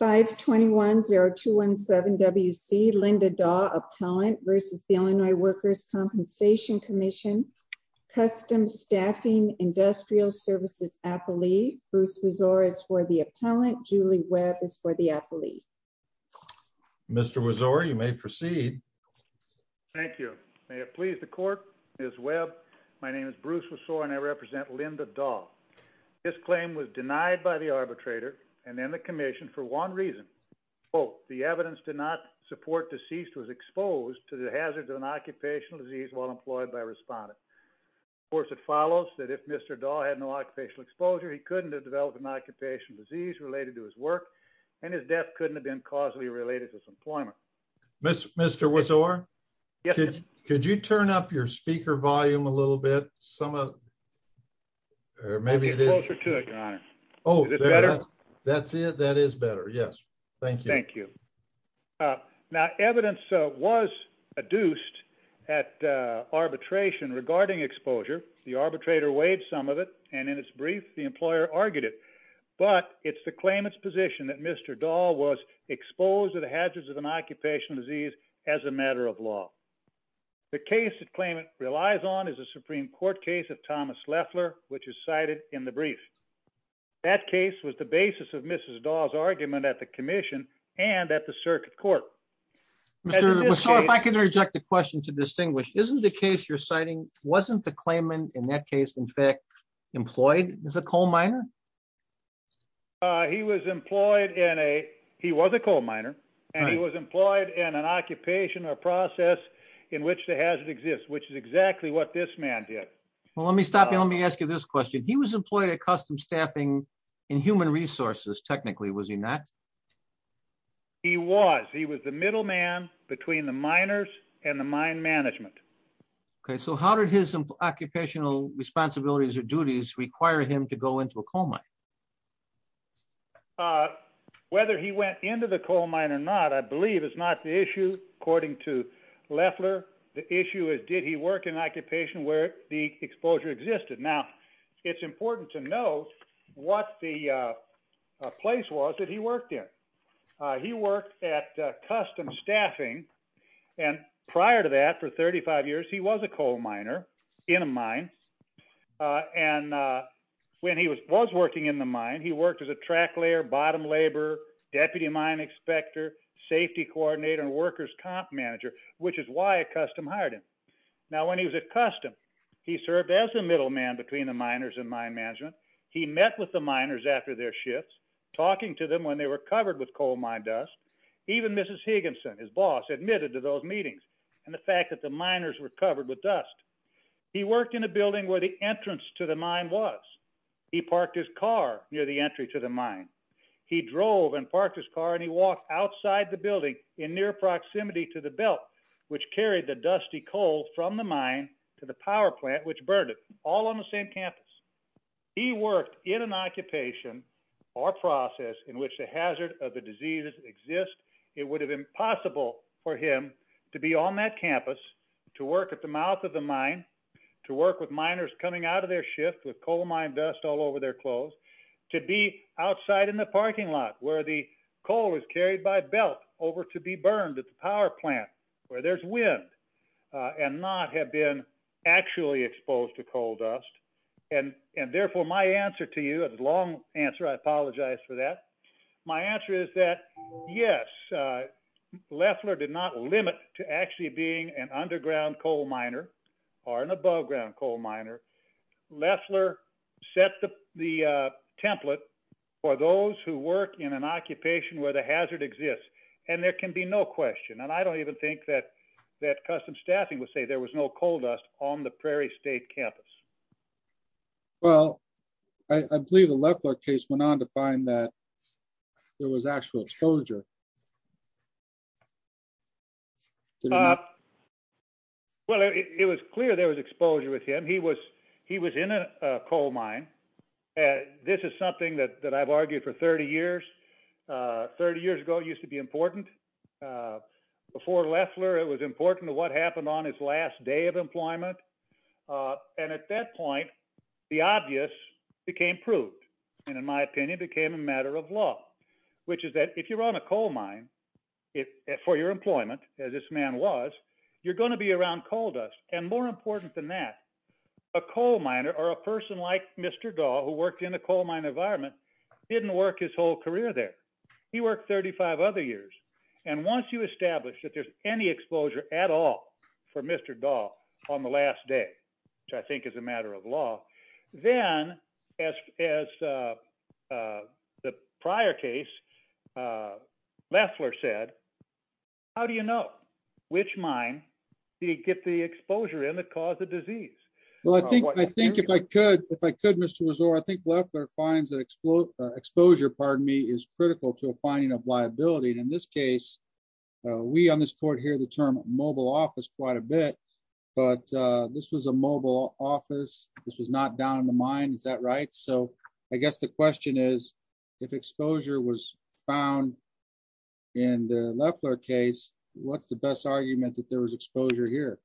521-0217-WC, Linda Dawe, Appellant, v. Illinois Workers' Compensation Comm'n, Customs, Staffing, Industrial Services Appellee. Bruce Wessore is for the Appellant. Julie Webb is for the Appellee. Mr. Wessore, you may proceed. Thank you. May it please the Court, Ms. Webb, my name is Bruce Wessore and I represent Linda Dawe. This claim was denied by the arbitrator and then the Commission for one reason. Both, the evidence did not support deceased was exposed to the hazards of an occupational disease while employed by a respondent. Of course, it follows that if Mr. Dawe had no occupational exposure, he couldn't have developed an occupational disease related to his work and his death couldn't have been causally related to his employment. Mr. Wessore, could you turn up your speaker volume a little bit? Some of, or maybe it is, oh, that's it. That is better. Yes. Thank you. Thank you. Now, evidence was adduced at arbitration regarding exposure. The arbitrator waived some of it, and in its brief, the employer argued it. But it's the claimant's position that Mr. Dawe was exposed to the hazards of an occupational disease as a matter of law. The case that claimant relies on is a Supreme Court case of Thomas Leffler, which is cited in the brief. That case was the basis of Mrs. Dawe's argument at the commission and at the circuit court. Mr. Wessore, if I could reject the question to distinguish, isn't the case you're citing, wasn't the claimant in that case, in fact, employed as a coal miner? He was employed in a, he was a coal miner, and he was employed in an occupation or process in which the hazard exists, which is exactly what this man did. Well, let me stop you. Let me ask you this question. He was employed at custom staffing in human resources, technically, was he not? He was. He was the middleman between the miners and the mine management. Okay. So how did his occupational responsibilities or duties require him to go into a coal mine? Whether he went into the coal mine or not, I believe, is not the issue, according to Leffler. The issue is, did he work in an occupation where the exposure existed? Now, it's important to know what the place was that he worked in. He worked at custom staffing, and prior to that, for 35 years, he was a coal miner in a mine. And when he was working in the mine, he worked as a track layer, bottom laborer, deputy mine inspector, safety coordinator, and workers' comp manager, which is why a custom hired him. Now, when he was at custom, he served as the middleman between the miners and mine management. He met with the miners after their shifts, talking to them when they were covered with coal mine dust. Even Mrs. Higginson, his boss, admitted to those meetings and the fact that the miners were covered with dust. He worked in a building where the entrance to the mine was. He parked his car near the entry to the mine. He drove and parked his car, and he walked outside the building in near proximity to the belt, which carried the dusty coal from the mine to the power plant, which burned it, all on the same campus. He worked in an occupation or process in which a hazard of the disease exists. It would have been impossible for him to be on that campus, to work at the mouth of the mine, to work with miners coming out of their shift with coal mine dust all over their clothes, to be outside in the parking lot where the coal is carried by belt over to be burned at the power plant where there's wind, and not have been actually exposed to coal dust. And therefore, my answer to you, a long answer, I apologize for that. My answer is that yes, Leffler did not limit to actually being an underground coal miner or an aboveground coal miner. Leffler set the template for those who work in an occupation where the hazard exists, and there can be no question. And I don't even think that custom staffing would say there was coal dust on the Prairie State campus. Well, I believe the Leffler case went on to find that there was actual exposure. Well, it was clear there was exposure with him. He was in a coal mine. This is something that I've argued for 30 years. 30 years ago, it used to be important. Before Leffler, it was important to what happened on his last day of employment. And at that point, the obvious became proved, and in my opinion, became a matter of law, which is that if you're on a coal mine for your employment, as this man was, you're going to be around coal dust. And more important than that, a coal miner or a person like Mr. Dahl, who worked in a coal mine environment, didn't work his whole career there. He worked 35 other years. And once you establish that there's any exposure at all for Mr. Dahl on the last day, which I think is a matter of law, then, as the prior case, Leffler said, how do you know which mine did he get the exposure in that caused the disease? Well, I think I think if I could, if I could, Mr. Resor, I think Leffler finds that exposure, pardon me, is critical to a finding of liability. In this case, we on this court here the term mobile office quite a bit. But this was a mobile office. This was not down in the mine. Is that right? So I guess the question is, if exposure was found in the Leffler case, what's the best argument that there was exposure here?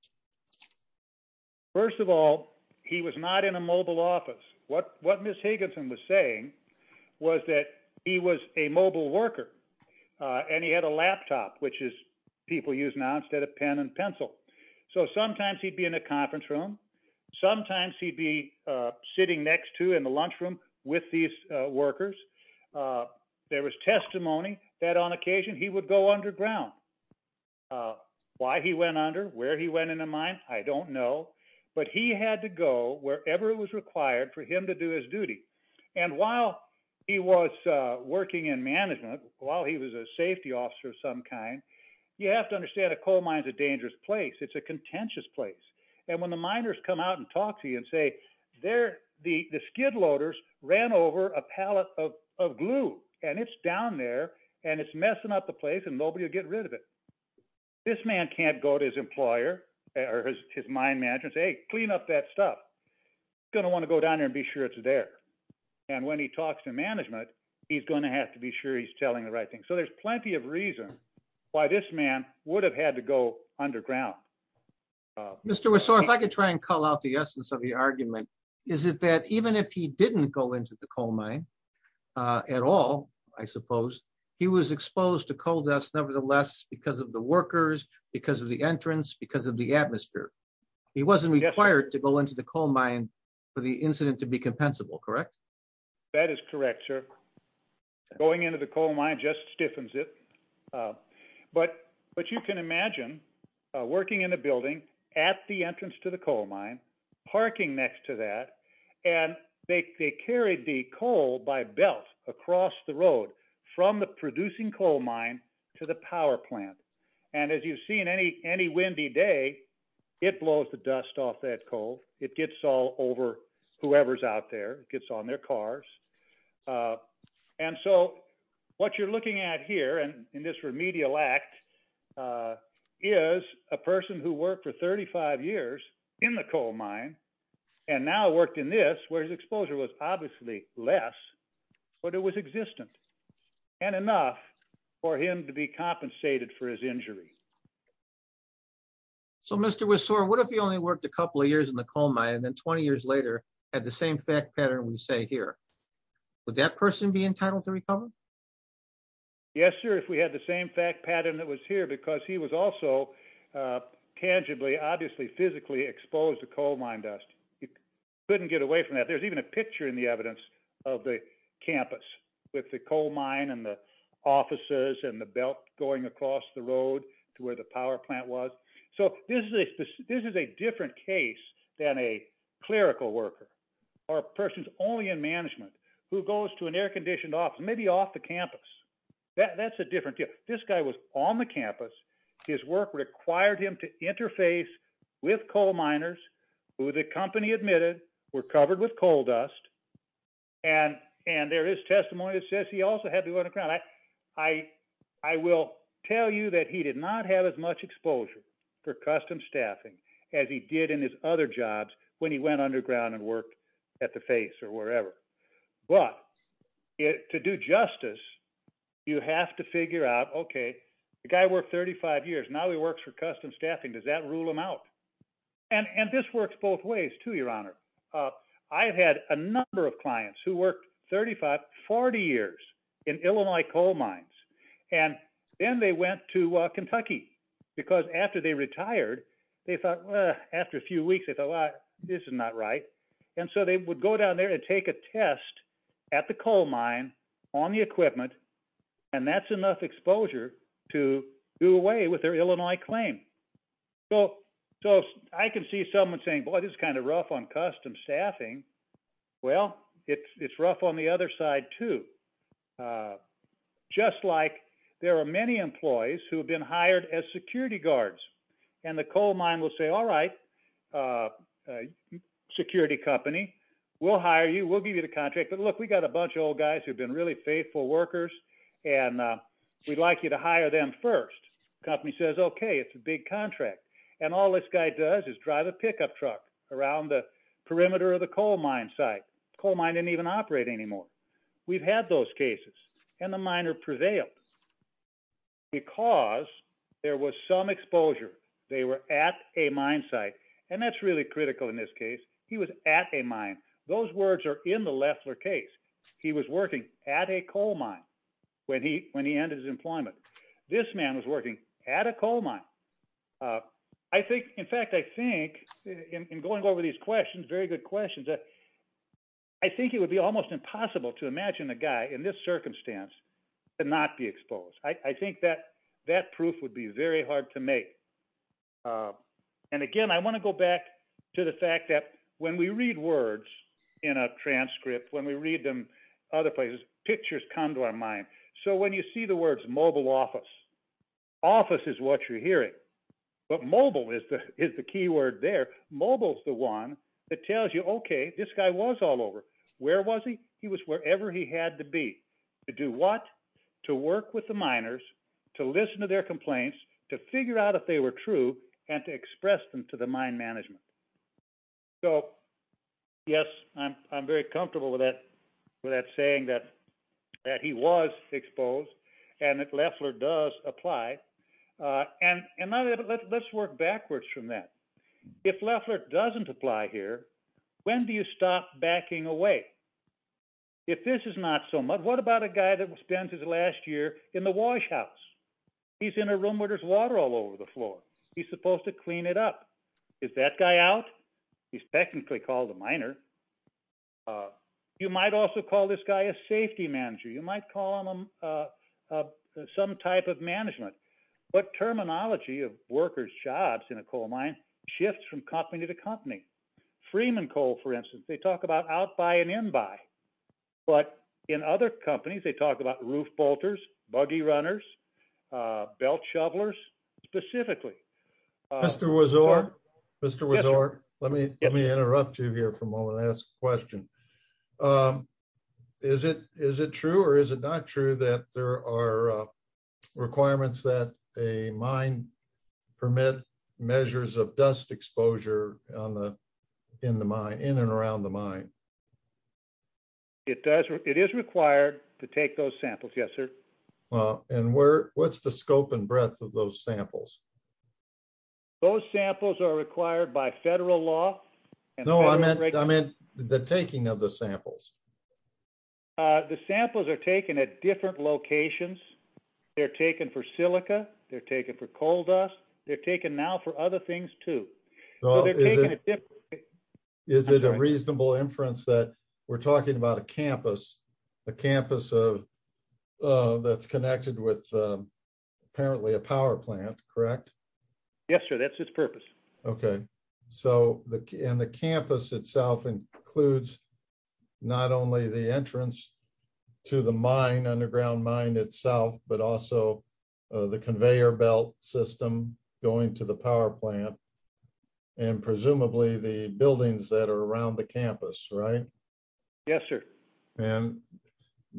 First of all, he was not in a mobile office. What what Miss Higginson was saying was that he was a mobile worker. And he had a laptop, which is people use now instead of pen and pencil. So sometimes he'd be in a conference room. Sometimes he'd be sitting next to in the lunchroom with these workers. There was testimony that on occasion he would go underground. Why he went under where he went in a mine, I don't know. But he had to go wherever it was required for him to do his duty. And while he was working in management, while he was a safety officer of some kind, you have to understand a coal mine is a dangerous place. It's a contentious place. And when the miners come out and talk to you and say they're the skid loaders ran over a pallet of glue, and it's down there, and it's messing up the place and nobody will get rid of it. This man can't go to his employer or his mine manager and say, clean up that stuff. He's going to want to go down there and be sure it's there. And when he talks to management, he's going to have to be sure he's telling the right thing. So there's plenty of reason why this man would have had to go underground. Mr. Wessor, if I could try and call out the essence of the argument, is it that even if he didn't go into the coal mine at all, I suppose, he was exposed to coal dust, nevertheless, because of the workers, because of the entrance, because of the atmosphere. He wasn't required to go into the coal mine for the incident to be compensable, correct? That is correct, sir. Going into the coal mine just stiffens it. But you can imagine working in a building at the entrance to the coal mine, parking next to that, and they carried the coal by belt across the road from the producing coal mine to the power plant. And as you've seen, any windy day, it blows the dust off that coal. It gets all over whoever's out there. It gets on their cars. And so what you're looking at here in this remedial act is a person who worked for 35 years in the coal mine and now worked in this, where his exposure was obviously less, but it was existent and enough for him to be compensated for his injury. So Mr. Wessor, what if he only worked a couple of years in the coal mine and then 20 years later had the same fact pattern we say here? Would that person be entitled to recover? Yes, sir, if we had the same fact pattern that was here, because he was also tangibly, obviously physically exposed to coal mine dust. He couldn't get away from that. There's a picture in the evidence of the campus with the coal mine and the offices and the belt going across the road to where the power plant was. So this is a different case than a clerical worker or a person who's only in management who goes to an air-conditioned office, maybe off the campus. That's a different deal. This guy was on the campus. His work required him to interface with coal miners who the company admitted were covered with coal dust. And there is testimony that says he also had to go underground. I will tell you that he did not have as much exposure for custom staffing as he did in his other jobs when he went underground and worked at the face or wherever. But to do justice, you have to figure out, okay, the guy worked 35 years. Now he works custom staffing. Does that rule him out? And this works both ways, too, Your Honor. I've had a number of clients who worked 35, 40 years in Illinois coal mines. And then they went to Kentucky, because after they retired, they thought, well, after a few weeks, they thought, well, this is not right. And so they would go down there and take a test at the coal mine on the equipment, and that's enough exposure to do away with their Illinois claim. So I can see someone saying, boy, this is kind of rough on custom staffing. Well, it's rough on the other side, too. Just like there are many employees who have been hired as security guards, and the coal mine will say, all right, security company, we'll hire you. We'll give you the contract. But look, we've got a bunch of old guys who've been really faithful workers, and we'd like you to hire them first. Company says, okay, it's a big contract. And all this guy does is drive a pickup truck around the perimeter of the coal mine site. Coal mine didn't even operate anymore. We've had those cases, and the miner prevailed. Because there was some exposure, they were at a mine site. And that's critical in this case. He was at a mine. Those words are in the Loeffler case. He was working at a coal mine when he ended his employment. This man was working at a coal mine. In fact, I think, in going over these questions, very good questions, I think it would be almost impossible to imagine a guy in this circumstance to not be exposed. I think that proof would be very hard to make. And again, I want to go back to the fact that when we read words in a transcript, when we read them other places, pictures come to our mind. So when you see the words mobile office, office is what you're hearing. But mobile is the key word there. Mobile is the one that tells you, okay, this guy was all over. Where was he? He was wherever he had to be. To do what? To work with miners, to listen to their complaints, to figure out if they were true, and to express them to the mine management. So yes, I'm very comfortable with that saying that he was exposed and that Loeffler does apply. And let's work backwards from that. If Loeffler doesn't apply here, when do you stop backing away? If this is not so much, what about a guy that spends his last year in the wash house? He's in a room where there's water all over the floor. He's supposed to clean it up. Is that guy out? He's technically called a miner. You might also call this guy a safety manager. You might call him some type of management. But terminology of workers' jobs in a coal mine shifts from company to company. Freeman Coal, for instance, they talk about out-buy and in-buy. But in other companies, they talk about roof bolters, buggy runners, belt shovelers, specifically. Mr. Wozork, let me interrupt you here for a moment and ask a question. Is it true or is it not true that there are requirements that a mine permit measures of dust exposure in and around the mine? It is required to take those samples, yes, sir. And what's the scope and breadth of those samples? Those samples are required by federal law. No, I meant the taking of the samples. The samples are taken at different locations. They're taken for silica. They're taken for coal dust. They're taken now for other things, too. Is it a reasonable inference that we're talking about a campus, a campus that's connected with apparently a power plant, correct? Yes, sir. That's its purpose. Okay. So and the campus itself includes not only the entrance to the mine, underground mine itself, but also the conveyor belt system going to the power plant and presumably the buildings that are around the campus, right? Yes, sir. And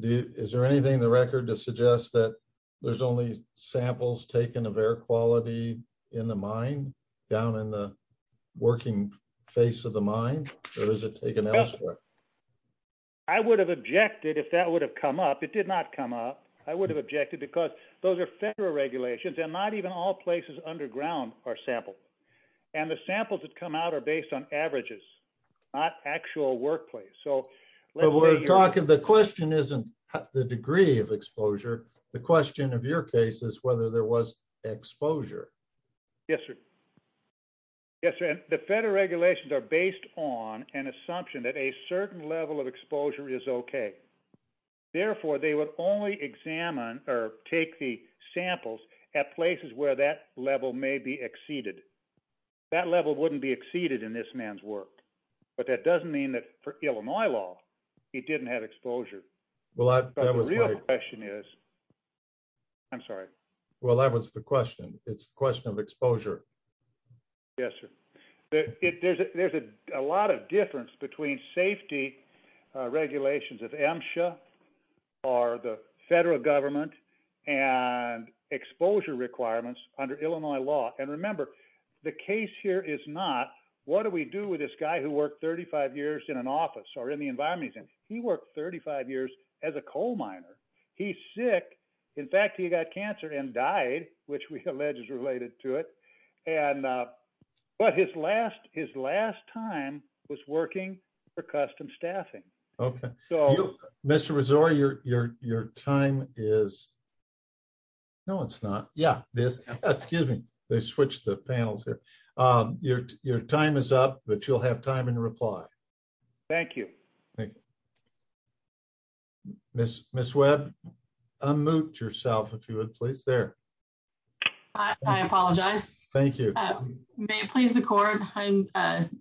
is there anything in the record to suggest that there's only samples taken of quality in the mine down in the working face of the mine or is it taken elsewhere? I would have objected if that would have come up. It did not come up. I would have objected because those are federal regulations and not even all places underground are sampled. And the samples that come out are based on averages, not actual workplace. So the question isn't the degree of exposure. The question of your case is whether there was exposure. Yes, sir. Yes, sir. And the federal regulations are based on an assumption that a certain level of exposure is okay. Therefore, they would only examine or take the samples at places where that level may be exceeded. That level wouldn't be exceeded in this man's work. But that doesn't mean that for Illinois law, he didn't have exposure. The real question is, I'm sorry. Well, that was the question. It's the question of exposure. Yes, sir. There's a lot of difference between safety regulations of MSHA or the federal government and exposure requirements under Illinois law. And remember, the case here is not, what do we do with this guy who worked 35 years in an office or in the environment? He worked 35 years as a coal miner. He's sick. In fact, he got cancer and died, which we allege is related to it. But his last time was working for custom staffing. Okay. Mr. Rezor, your time is... No, it's not. Yeah. Excuse me. Let me switch the panels here. Your time is up, but you'll have time in reply. Thank you. Ms. Webb, unmute yourself, if you would, please. There. I apologize. Thank you. May it please the court, I'm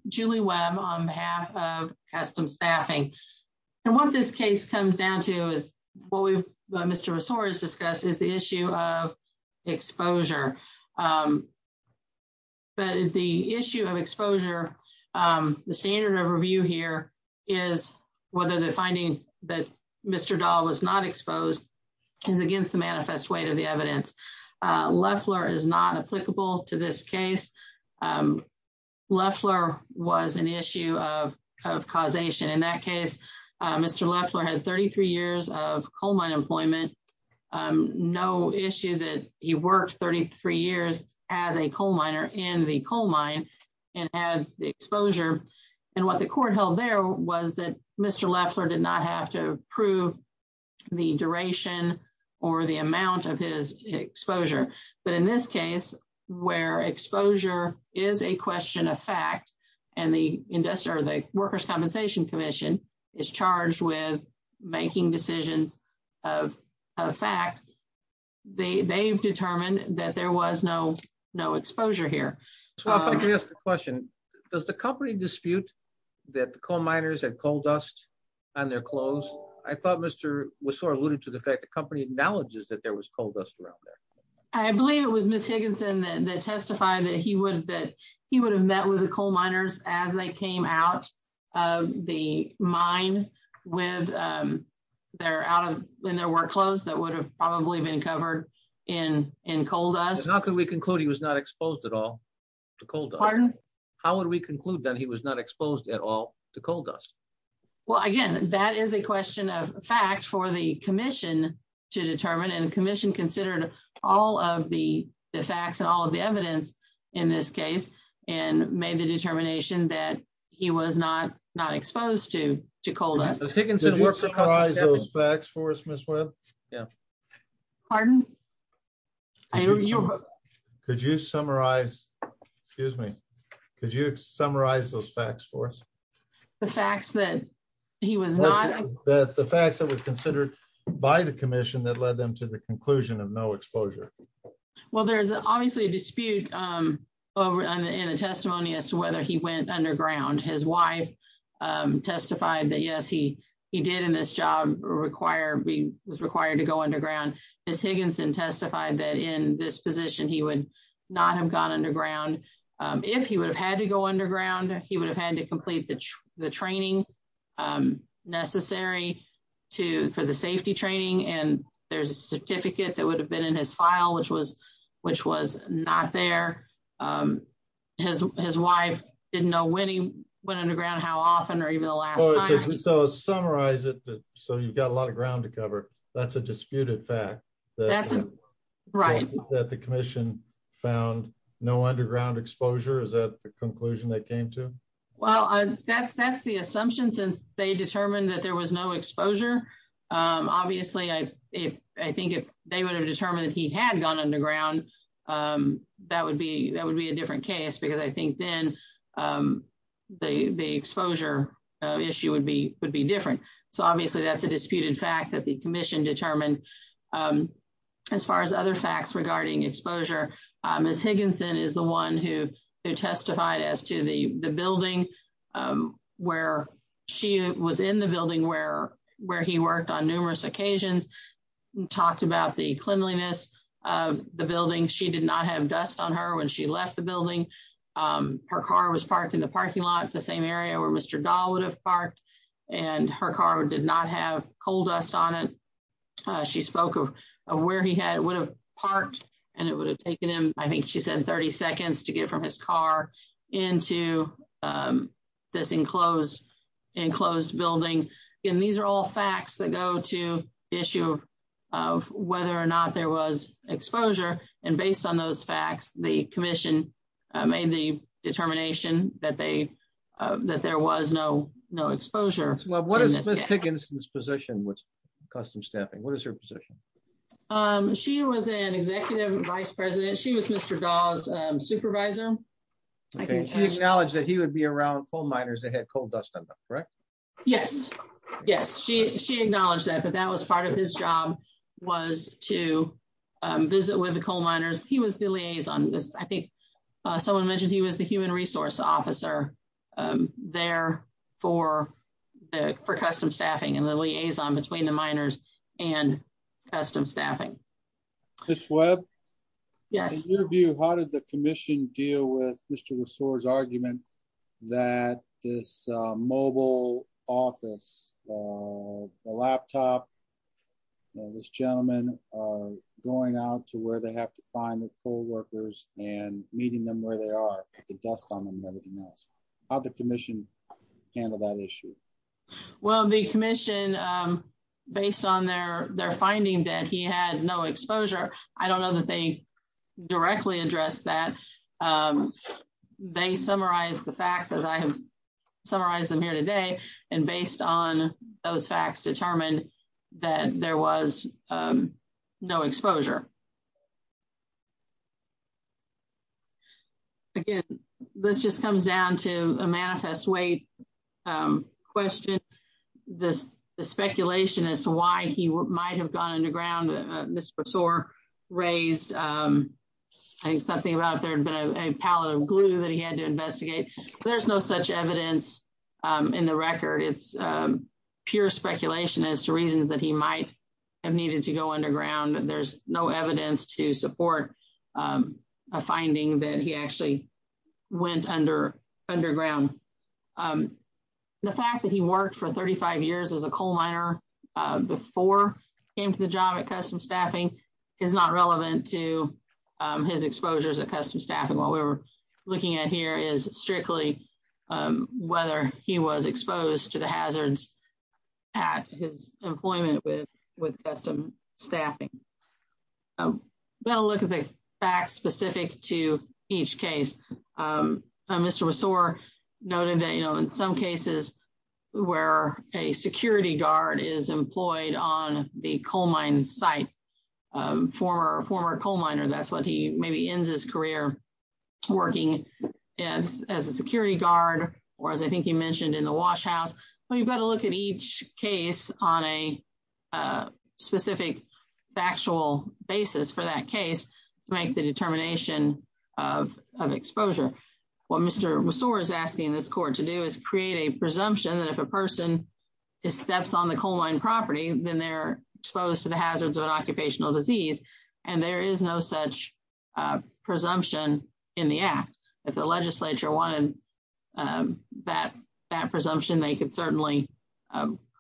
Julie Webb on behalf of custom staffing. And what this case comes down to is what Mr. Rezor has discussed is the issue of exposure. But the issue of exposure, the standard of review here is whether the finding that Mr. Dahl was not exposed is against the manifest weight of the evidence. Leffler is not applicable to this case. Leffler was an issue of causation. In that case, Mr. Leffler had 33 years of coal mine employment. No issue that he worked 33 years as a coal miner in the coal mine and had the exposure. And what the court held there was that Mr. Leffler did not have to prove the duration or the amount of his exposure. But in this case, where exposure is a question of fact, and the industry or the Workers' Compensation Commission is charged with making decisions of fact, they've determined that there was no exposure here. So if I could ask a question, does the company dispute that the coal miners had coal dust on their clothes? I thought Mr. Rezor alluded to the fact that the company acknowledges that there was coal dust around there. I believe it was Ms. Higginson that testified that he would have met with the coal miners as they came out of the mine with their work clothes that would have probably been covered in coal dust. How can we conclude he was not exposed at all to coal dust? Pardon? How would we conclude that he was not exposed at all to coal dust? Well, again, that is a question of fact for the commission to determine. And the commission considered all of the facts and all of the evidence in this case, and made the determination that he was not exposed to coal dust. Ms. Higginson, were you surprised by those facts for us, Ms. Webb? Yeah. Pardon? Could you summarize those facts for us? The facts that he was not... No exposure. Well, there's obviously a dispute in the testimony as to whether he went underground. His wife testified that, yes, he did in this job, was required to go underground. Ms. Higginson testified that in this position, he would not have gone underground. If he would have had to go underground, he would have had to complete the training necessary for the safety training. And there's a certificate that would have been in his file, which was not there. His wife didn't know when he went underground, how often, or even the last time. So summarize it, so you've got a lot of ground to cover. That's a disputed fact. Right. That the commission found no underground exposure. Is that the conclusion they came to? Well, that's the assumption since they determined that there was no exposure. Obviously, I think if they would have determined that he had gone underground, that would be a different case because I think then the exposure issue would be different. So obviously, that's a disputed fact that the commission determined. As far as other facts regarding exposure, Ms. Higginson is the one who testified as to the on numerous occasions, talked about the cleanliness of the building. She did not have dust on her when she left the building. Her car was parked in the parking lot, the same area where Mr. Dahl would have parked, and her car did not have coal dust on it. She spoke of where he had would have parked, and it would have taken him, I think she said 30 seconds to get from his car into this enclosed building. And these are all facts that go to issue of whether or not there was exposure. And based on those facts, the commission made the determination that there was no exposure. Well, what is Ms. Higginson's position with custom staffing? What is her position? Um, she was an executive vice president. She was Mr. Dahl's supervisor. Okay, she acknowledged that he would be around coal miners that had coal dust on them, correct? Yes, yes, she acknowledged that. But that was part of his job was to visit with the coal miners. He was the liaison. I think someone mentioned he was the human resource officer there for custom staffing and the liaison between the miners and custom staffing. Ms. Webb? Yes. In your view, how did the commission deal with Mr. Rasour's argument that this mobile office, the laptop, this gentleman going out to where they have to find the coal workers and meeting them where they are, put the dust on them and everything else? How'd the commission handle that issue? Well, the commission, based on their finding that he had no exposure, I don't know that they directly addressed that. They summarized the facts as I have summarized them here today. And based on those facts determined that there was no exposure. Again, this just comes down to a manifest weight question. The speculation as to why he might have gone underground, Mr. Rasour raised, I think something about there had been a pallet of glue that he had to investigate. There's no such evidence in the record. It's pure speculation as to reasons that he might have needed to go underground. There's no evidence that he supported a finding that he actually went underground. The fact that he worked for 35 years as a coal miner before he came to the job at Custom Staffing is not relevant to his exposures at Custom Staffing. What we're looking at here is strictly whether he was going to look at the facts specific to each case. Mr. Rasour noted that in some cases where a security guard is employed on the coal mine site, former coal miner, that's what he maybe ends his career working as a security guard, or as I think he mentioned in the wash house. You've got to look at each case on a specific factual basis for that case to make the determination of exposure. What Mr. Rasour is asking this court to do is create a presumption that if a person steps on the coal mine property, then they're exposed to the hazards of an occupational disease. There is no such presumption in the act. If the legislature wanted that presumption, they could certainly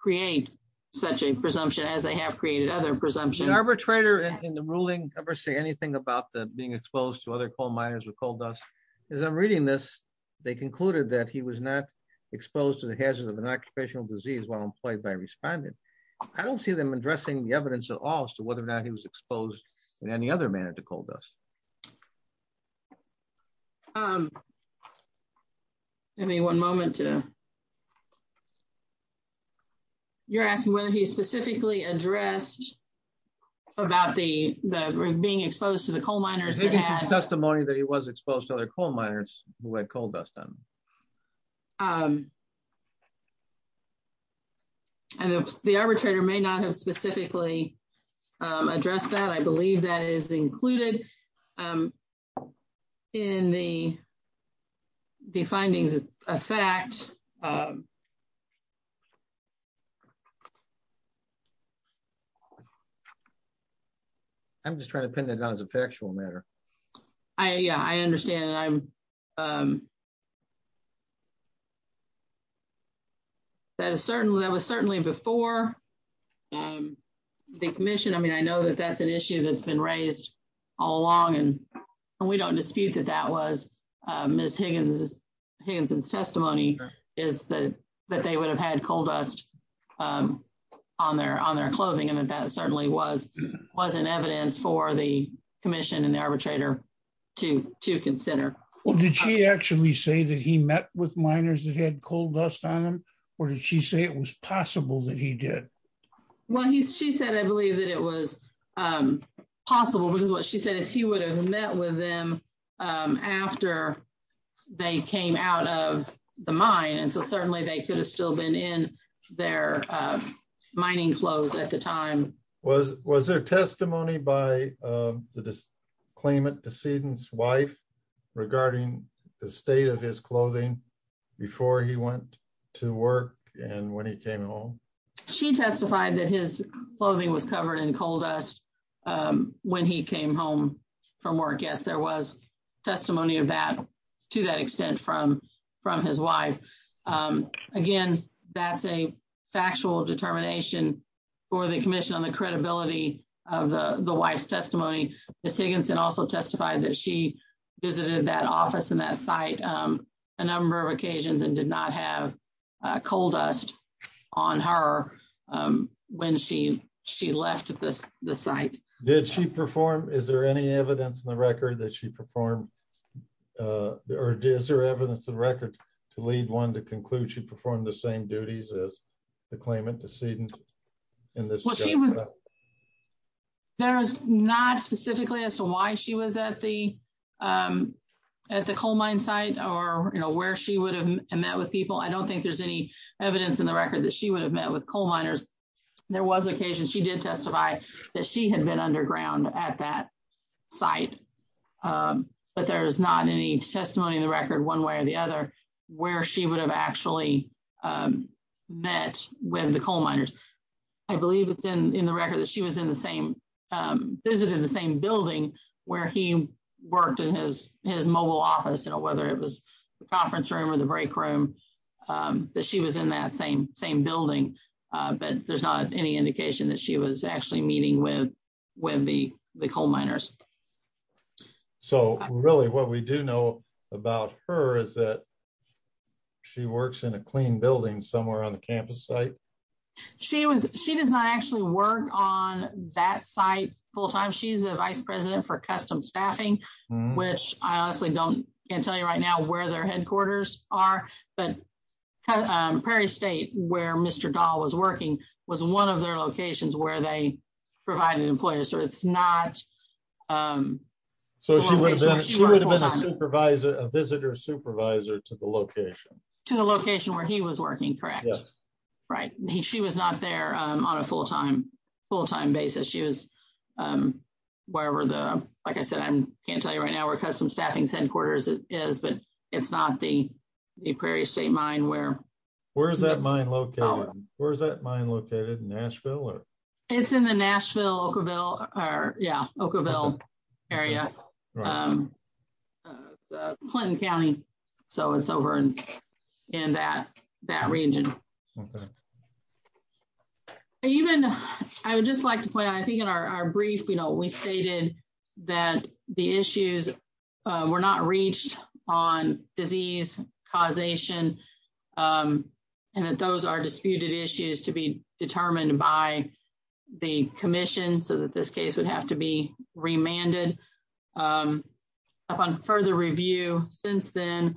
create such a presumption as they have created other presumptions. Did an arbitrator in the ruling ever say anything about being exposed to other coal miners with coal dust? As I'm reading this, they concluded that he was not exposed to the hazards of an occupational disease while employed by a respondent. I don't see them addressing the evidence at all as to whether or not he was exposed in any other manner to coal dust. Maybe one moment. You're asking whether he specifically addressed about the being exposed to the coal miners. There's no such testimony that he was exposed to other coal miners who had coal dust on them. The arbitrator may not have specifically addressed that. I believe that is included in the findings of fact. I'm just trying to pin it down as a factual matter. I understand. That was certainly before the commission. I know that that's an issue that's been raised all along. We don't dispute that that was Ms. Higginson's testimony, that they would have had coal dust on their clothing. That certainly was in evidence for the arbitrator to consider. Did she actually say that he met with miners that had coal dust on them or did she say it was possible that he did? She said I believe that it was possible because what she said is he would have met with them after they came out of the mine. Certainly, they could have still been in their mining clothes at the time. Was there testimony by the claimant's wife regarding the state of his clothing before he went to work and when he came home? She testified that his clothing was covered in coal dust when he came home from work. Yes, there was testimony of that to that extent from his wife. Again, that's a factual determination for the commission on the credibility of the wife's testimony. Ms. Higginson also testified that she visited that office and that site a number of occasions and did not have coal dust on her when she left the site. Did she perform, is there any evidence in the record that she performed or is there evidence of record to lead one to conclude she performed the same duties as the claimant, decedent? There is not specifically as to why she was at the coal mine site or where she would have met with people. I don't think there's any evidence in the record that she would have met with coal miners. There was occasion she did underground at that site, but there's not any testimony in the record one way or the other where she would have actually met with the coal miners. I believe it's in the record that she was in the same, visited the same building where he worked in his mobile office, whether it was the conference room or the break room, that she was in that same building, but there's not any meeting with the coal miners. So really what we do know about her is that she works in a clean building somewhere on the campus site? She was, she does not actually work on that site full time. She's the vice president for custom staffing, which I honestly don't, can't tell you right now where their headquarters are, but Prairie State where Mr. Dahl was working was one of their provided employers, so it's not. So she would have been a supervisor, a visitor supervisor to the location? To the location where he was working, correct. Right, she was not there on a full-time full-time basis. She was wherever the, like I said, I can't tell you right now where custom staffing's headquarters is, but it's not the Prairie State mine where. Where is that mine located? Where is that mine located? Nashville or? It's in the Nashville, Oakville, yeah, Oakville area, Clinton County, so it's over in that region. Even, I would just like to point out, I think in our brief, you know, we stated that the issues were not reached on disease, causation, and that those are disputed issues to be determined by the commission, so that this case would have to be remanded. Upon further review since then,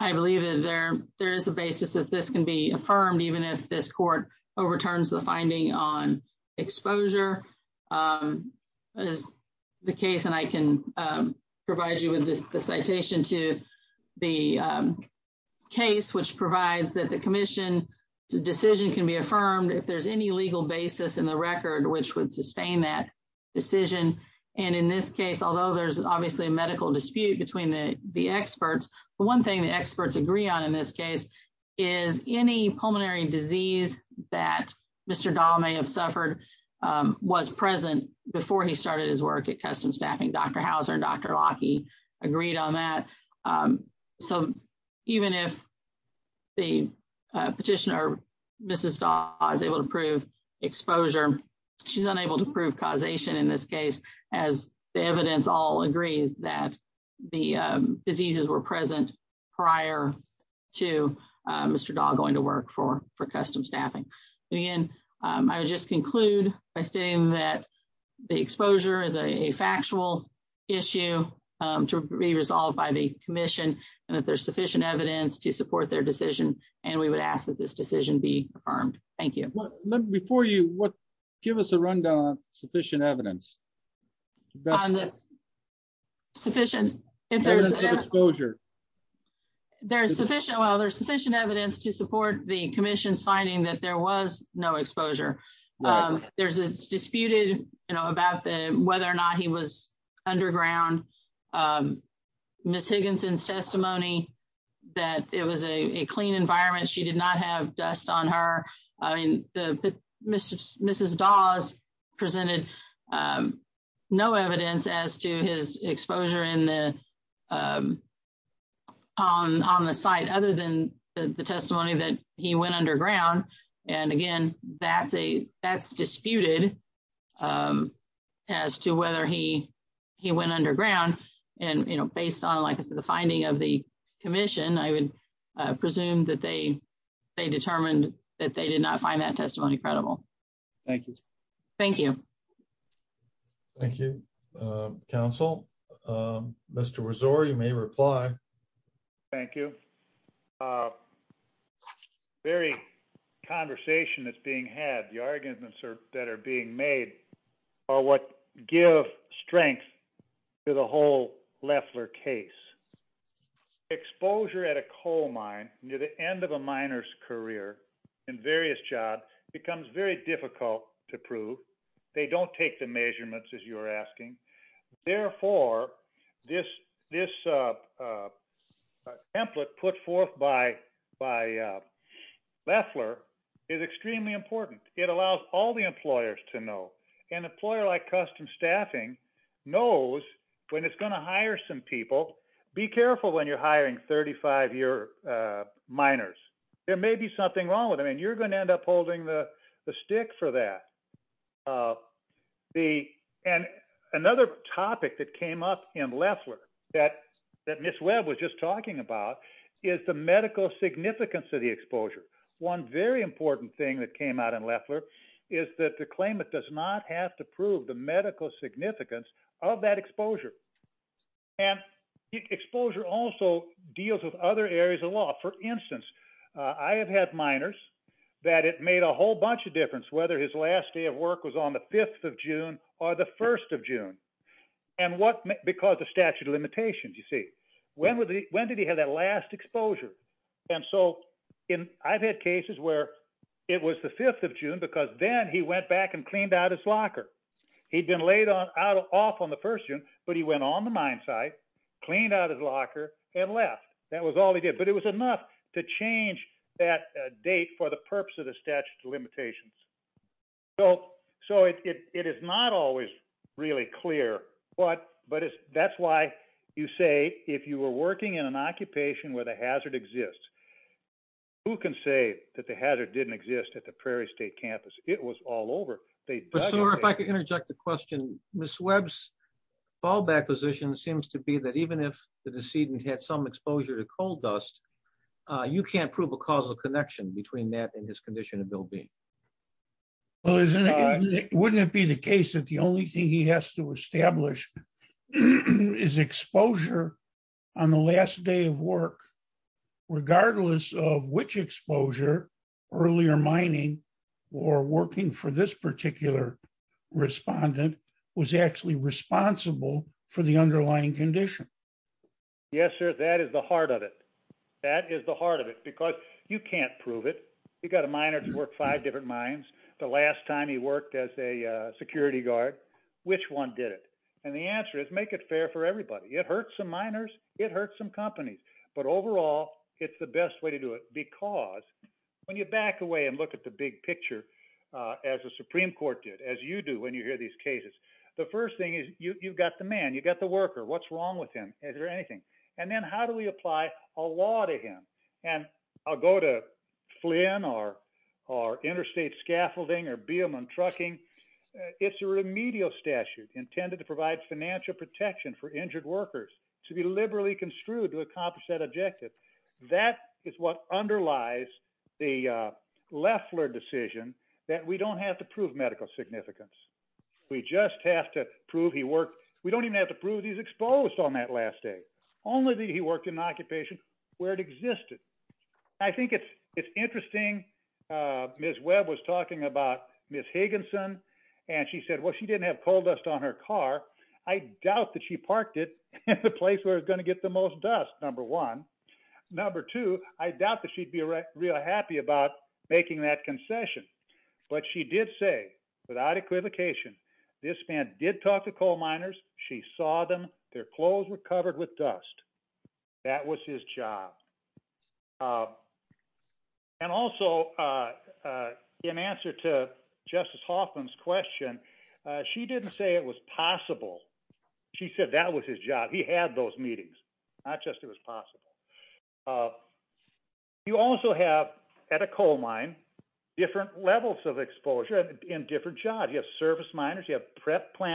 I believe that there, there is a basis that this can be affirmed, even if this court overturns the finding on exposure. As the case, and I can provide you with this, the citation to the case, which provides that the commission's decision can be affirmed if there's any legal basis in the record which would sustain that decision. And in this case, although there's obviously a medical dispute between the experts, the one thing the experts agree on in this case is any pulmonary disease that Mr. Dahl may have suffered was present before he started his work at Custom Staffing. Dr. Hauser and Dr. Lackey agreed on that, so even if the petitioner, Mrs. Dahl, is able to prove exposure, she's unable to prove causation in this case, as the evidence all agrees that the diseases were present prior to Mr. Dahl going to work for, for Custom Staffing. Again, I would just conclude by stating that the exposure is a factual issue to be resolved by the commission, and that there's sufficient evidence to support their decision, and we would ask that this decision be affirmed. Thank you. Before you, what, give us a rundown on sufficient evidence. Sufficient. There's sufficient, well, there's sufficient evidence to support the commission's finding that there was no exposure. There's, it's disputed, you know, about the, whether or not he was underground. Ms. Higginson's testimony, that it was a clean environment, she did not have dust on her. I mean, the, Mrs. Dahl's presented no evidence as to his exposure in the, on the site, other than the testimony that he went underground, and again, that's a, that's disputed as to whether he, he went underground, and, you know, based on, like I said, the finding of the commission, I would presume that they, they determined that they did not find that testimony credible. Thank you. Thank you. Thank you, Council. Mr. Rezor, you may reply. Thank you. Very conversation that's being had, the arguments that are being made are what give strength to the whole Loeffler case. Exposure at a coal mine near the end of a miner's career in various jobs becomes very difficult to prove. They don't take the measurements, as you're asking. Therefore, this, this template put forth by, by Loeffler is extremely important. It allows all the employers to know. An employer like Customs Staffing knows when it's going to hire some people, be careful when you're hiring 35-year miners. There may be something wrong with them, and you're going to end up holding the stick for that. The, and another topic that came up in Loeffler that, that Ms. Webb was just talking about is the medical significance of the exposure. One very important thing that came out in Loeffler is that the claimant does not have to prove the medical significance of that exposure. And exposure also deals with other areas of law. For instance, I have had miners that it made a whole bunch of difference whether his last day of work was on the 5th of June or the 1st of June. And what, because of statute limitations, you see. When would the, when did he have that last exposure? And so, in, I've had cases where it was the 5th of June because then he went back and cleaned out his locker. He'd been laid on, out, off on the 1st June, but he went on the mine site, cleaned out his locker, and left. That was all he did. But it was enough to change that date for the purpose of the statute of You say, if you were working in an occupation where the hazard exists, who can say that the hazard didn't exist at the Prairie State campus? It was all over. But sir, if I could interject a question. Ms. Webb's fallback position seems to be that even if the decedent had some exposure to coal dust, you can't prove a causal connection between that and his condition of well-being. Well, isn't it, wouldn't it be the case that the only thing he has to establish is exposure on the last day of work, regardless of which exposure, earlier mining or working for this particular respondent, was actually responsible for the underlying condition? Yes, sir. That is the heart of it. That is the heart of it, because you can't prove it. You've got a miner who's worked five different mines. The last time he worked as a security guard, which one did it? And the answer is, make it fair for everybody. It hurts some miners. It hurts some companies. But overall, it's the best way to do it, because when you back away and look at the big picture, as the Supreme Court did, as you do when you hear these cases, the first thing is, you've got the man, you've got the worker, what's wrong with him? Is there anything? And then how do we apply a law to him? And I'll go to Flynn or interstate scaffolding or beam and trucking. It's a remedial statute intended to provide financial protection for injured workers to be liberally construed to accomplish that objective. That is what underlies the Leffler decision that we don't have to prove medical significance. We just have to prove he worked. We don't even have to prove he's exposed on that last day, only that he worked in an Ms. Higginson. And she said, well, she didn't have coal dust on her car. I doubt that she parked it at the place where it's going to get the most dust, number one. Number two, I doubt that she'd be real happy about making that concession. But she did say, without equivocation, this man did talk to coal miners, she saw them, their clothes were covered with dust. That was his job. And also, in answer to Justice Hoffman's question, she didn't say it was possible. She said that was his job. He had those meetings, not just it was possible. You also have at a coal mine, different levels of exposure in different jobs. You have service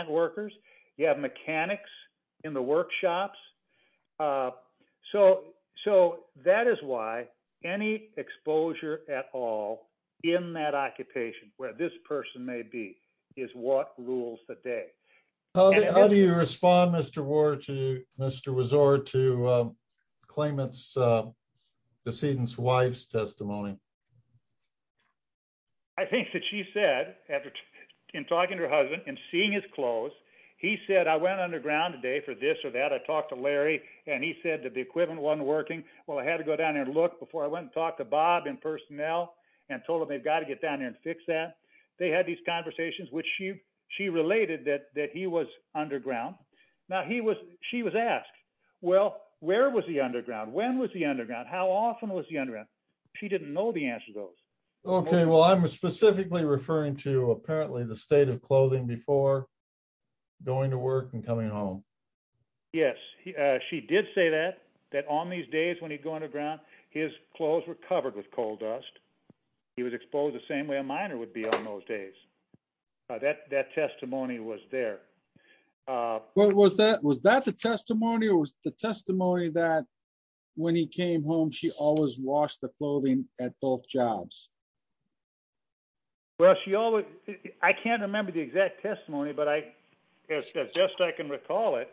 workers, you have mechanics in the workshops. So that is why any exposure at all in that occupation where this person may be, is what rules the day. How do you respond, Mr. Ward, to Mr. Wazor, to the claimant's decedent's wife's testimony? I think that she said, in talking to her husband and seeing his clothes, he said, I went underground today for this or that. I talked to Larry, and he said that the equipment wasn't working. Well, I had to go down there and look before I went and talked to Bob and personnel and told them they've got to get down there and fix that. They had these conversations, which she related that he was underground. Now, she was asked, well, where was he underground? When was he underground? How often was he underground? She didn't know the answer to those. Okay, well, I'm specifically referring to, apparently, the state of clothing before going to work and coming home. Yes, she did say that, that on these days when he'd go underground, his clothes were covered with coal dust. He was exposed the same way a miner would be on those days. That testimony was there. Was that the testimony or was the testimony that when he came home, she always washed the clothing at both jobs? Well, I can't remember the exact testimony, but as best I can recall it,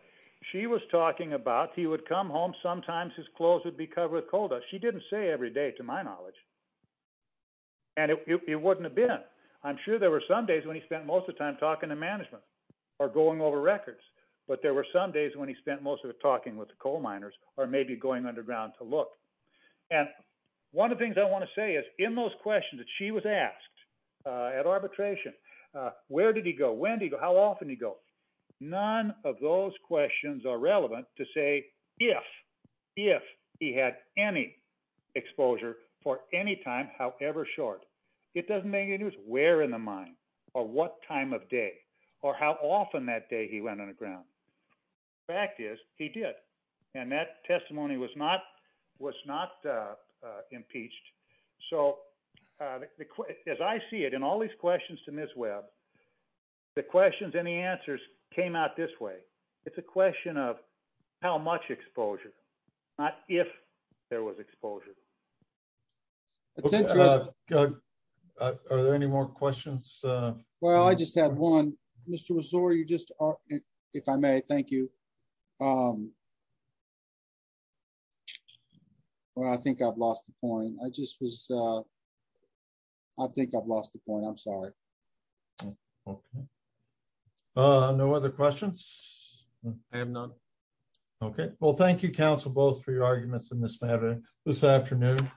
she was talking about he would come home, sometimes his clothes would be covered with coal dust. She didn't say every day, to my knowledge, and it wouldn't have been. I'm sure there were some days when he spent most of the time talking to management or going over records, but there were some days when he spent most of the time talking with the coal miners or maybe going underground to look. And one of the things I want to say is in those questions that she was asked at arbitration, where did he go? When did he go? How often did he go? None of those questions are relevant to say if, if he had any exposure for any time, however short. It doesn't make any difference where in the mine or what time of day or how often that day he went underground. Fact is, he did. And that testimony was not impeached. So as I see it in all these questions to Ms. Webb, the questions and the answers came out this way. It's a question of how much exposure, not if there was exposure. Are there any more questions? Well, I just had one. Mr. Resor, you just, if I may, thank you. Well, I think I've lost the point. I just was, I think I've lost the point. I'm sorry. Okay. No other questions? I have none. Okay. Well, thank you, Council, both for your arguments in this afternoon.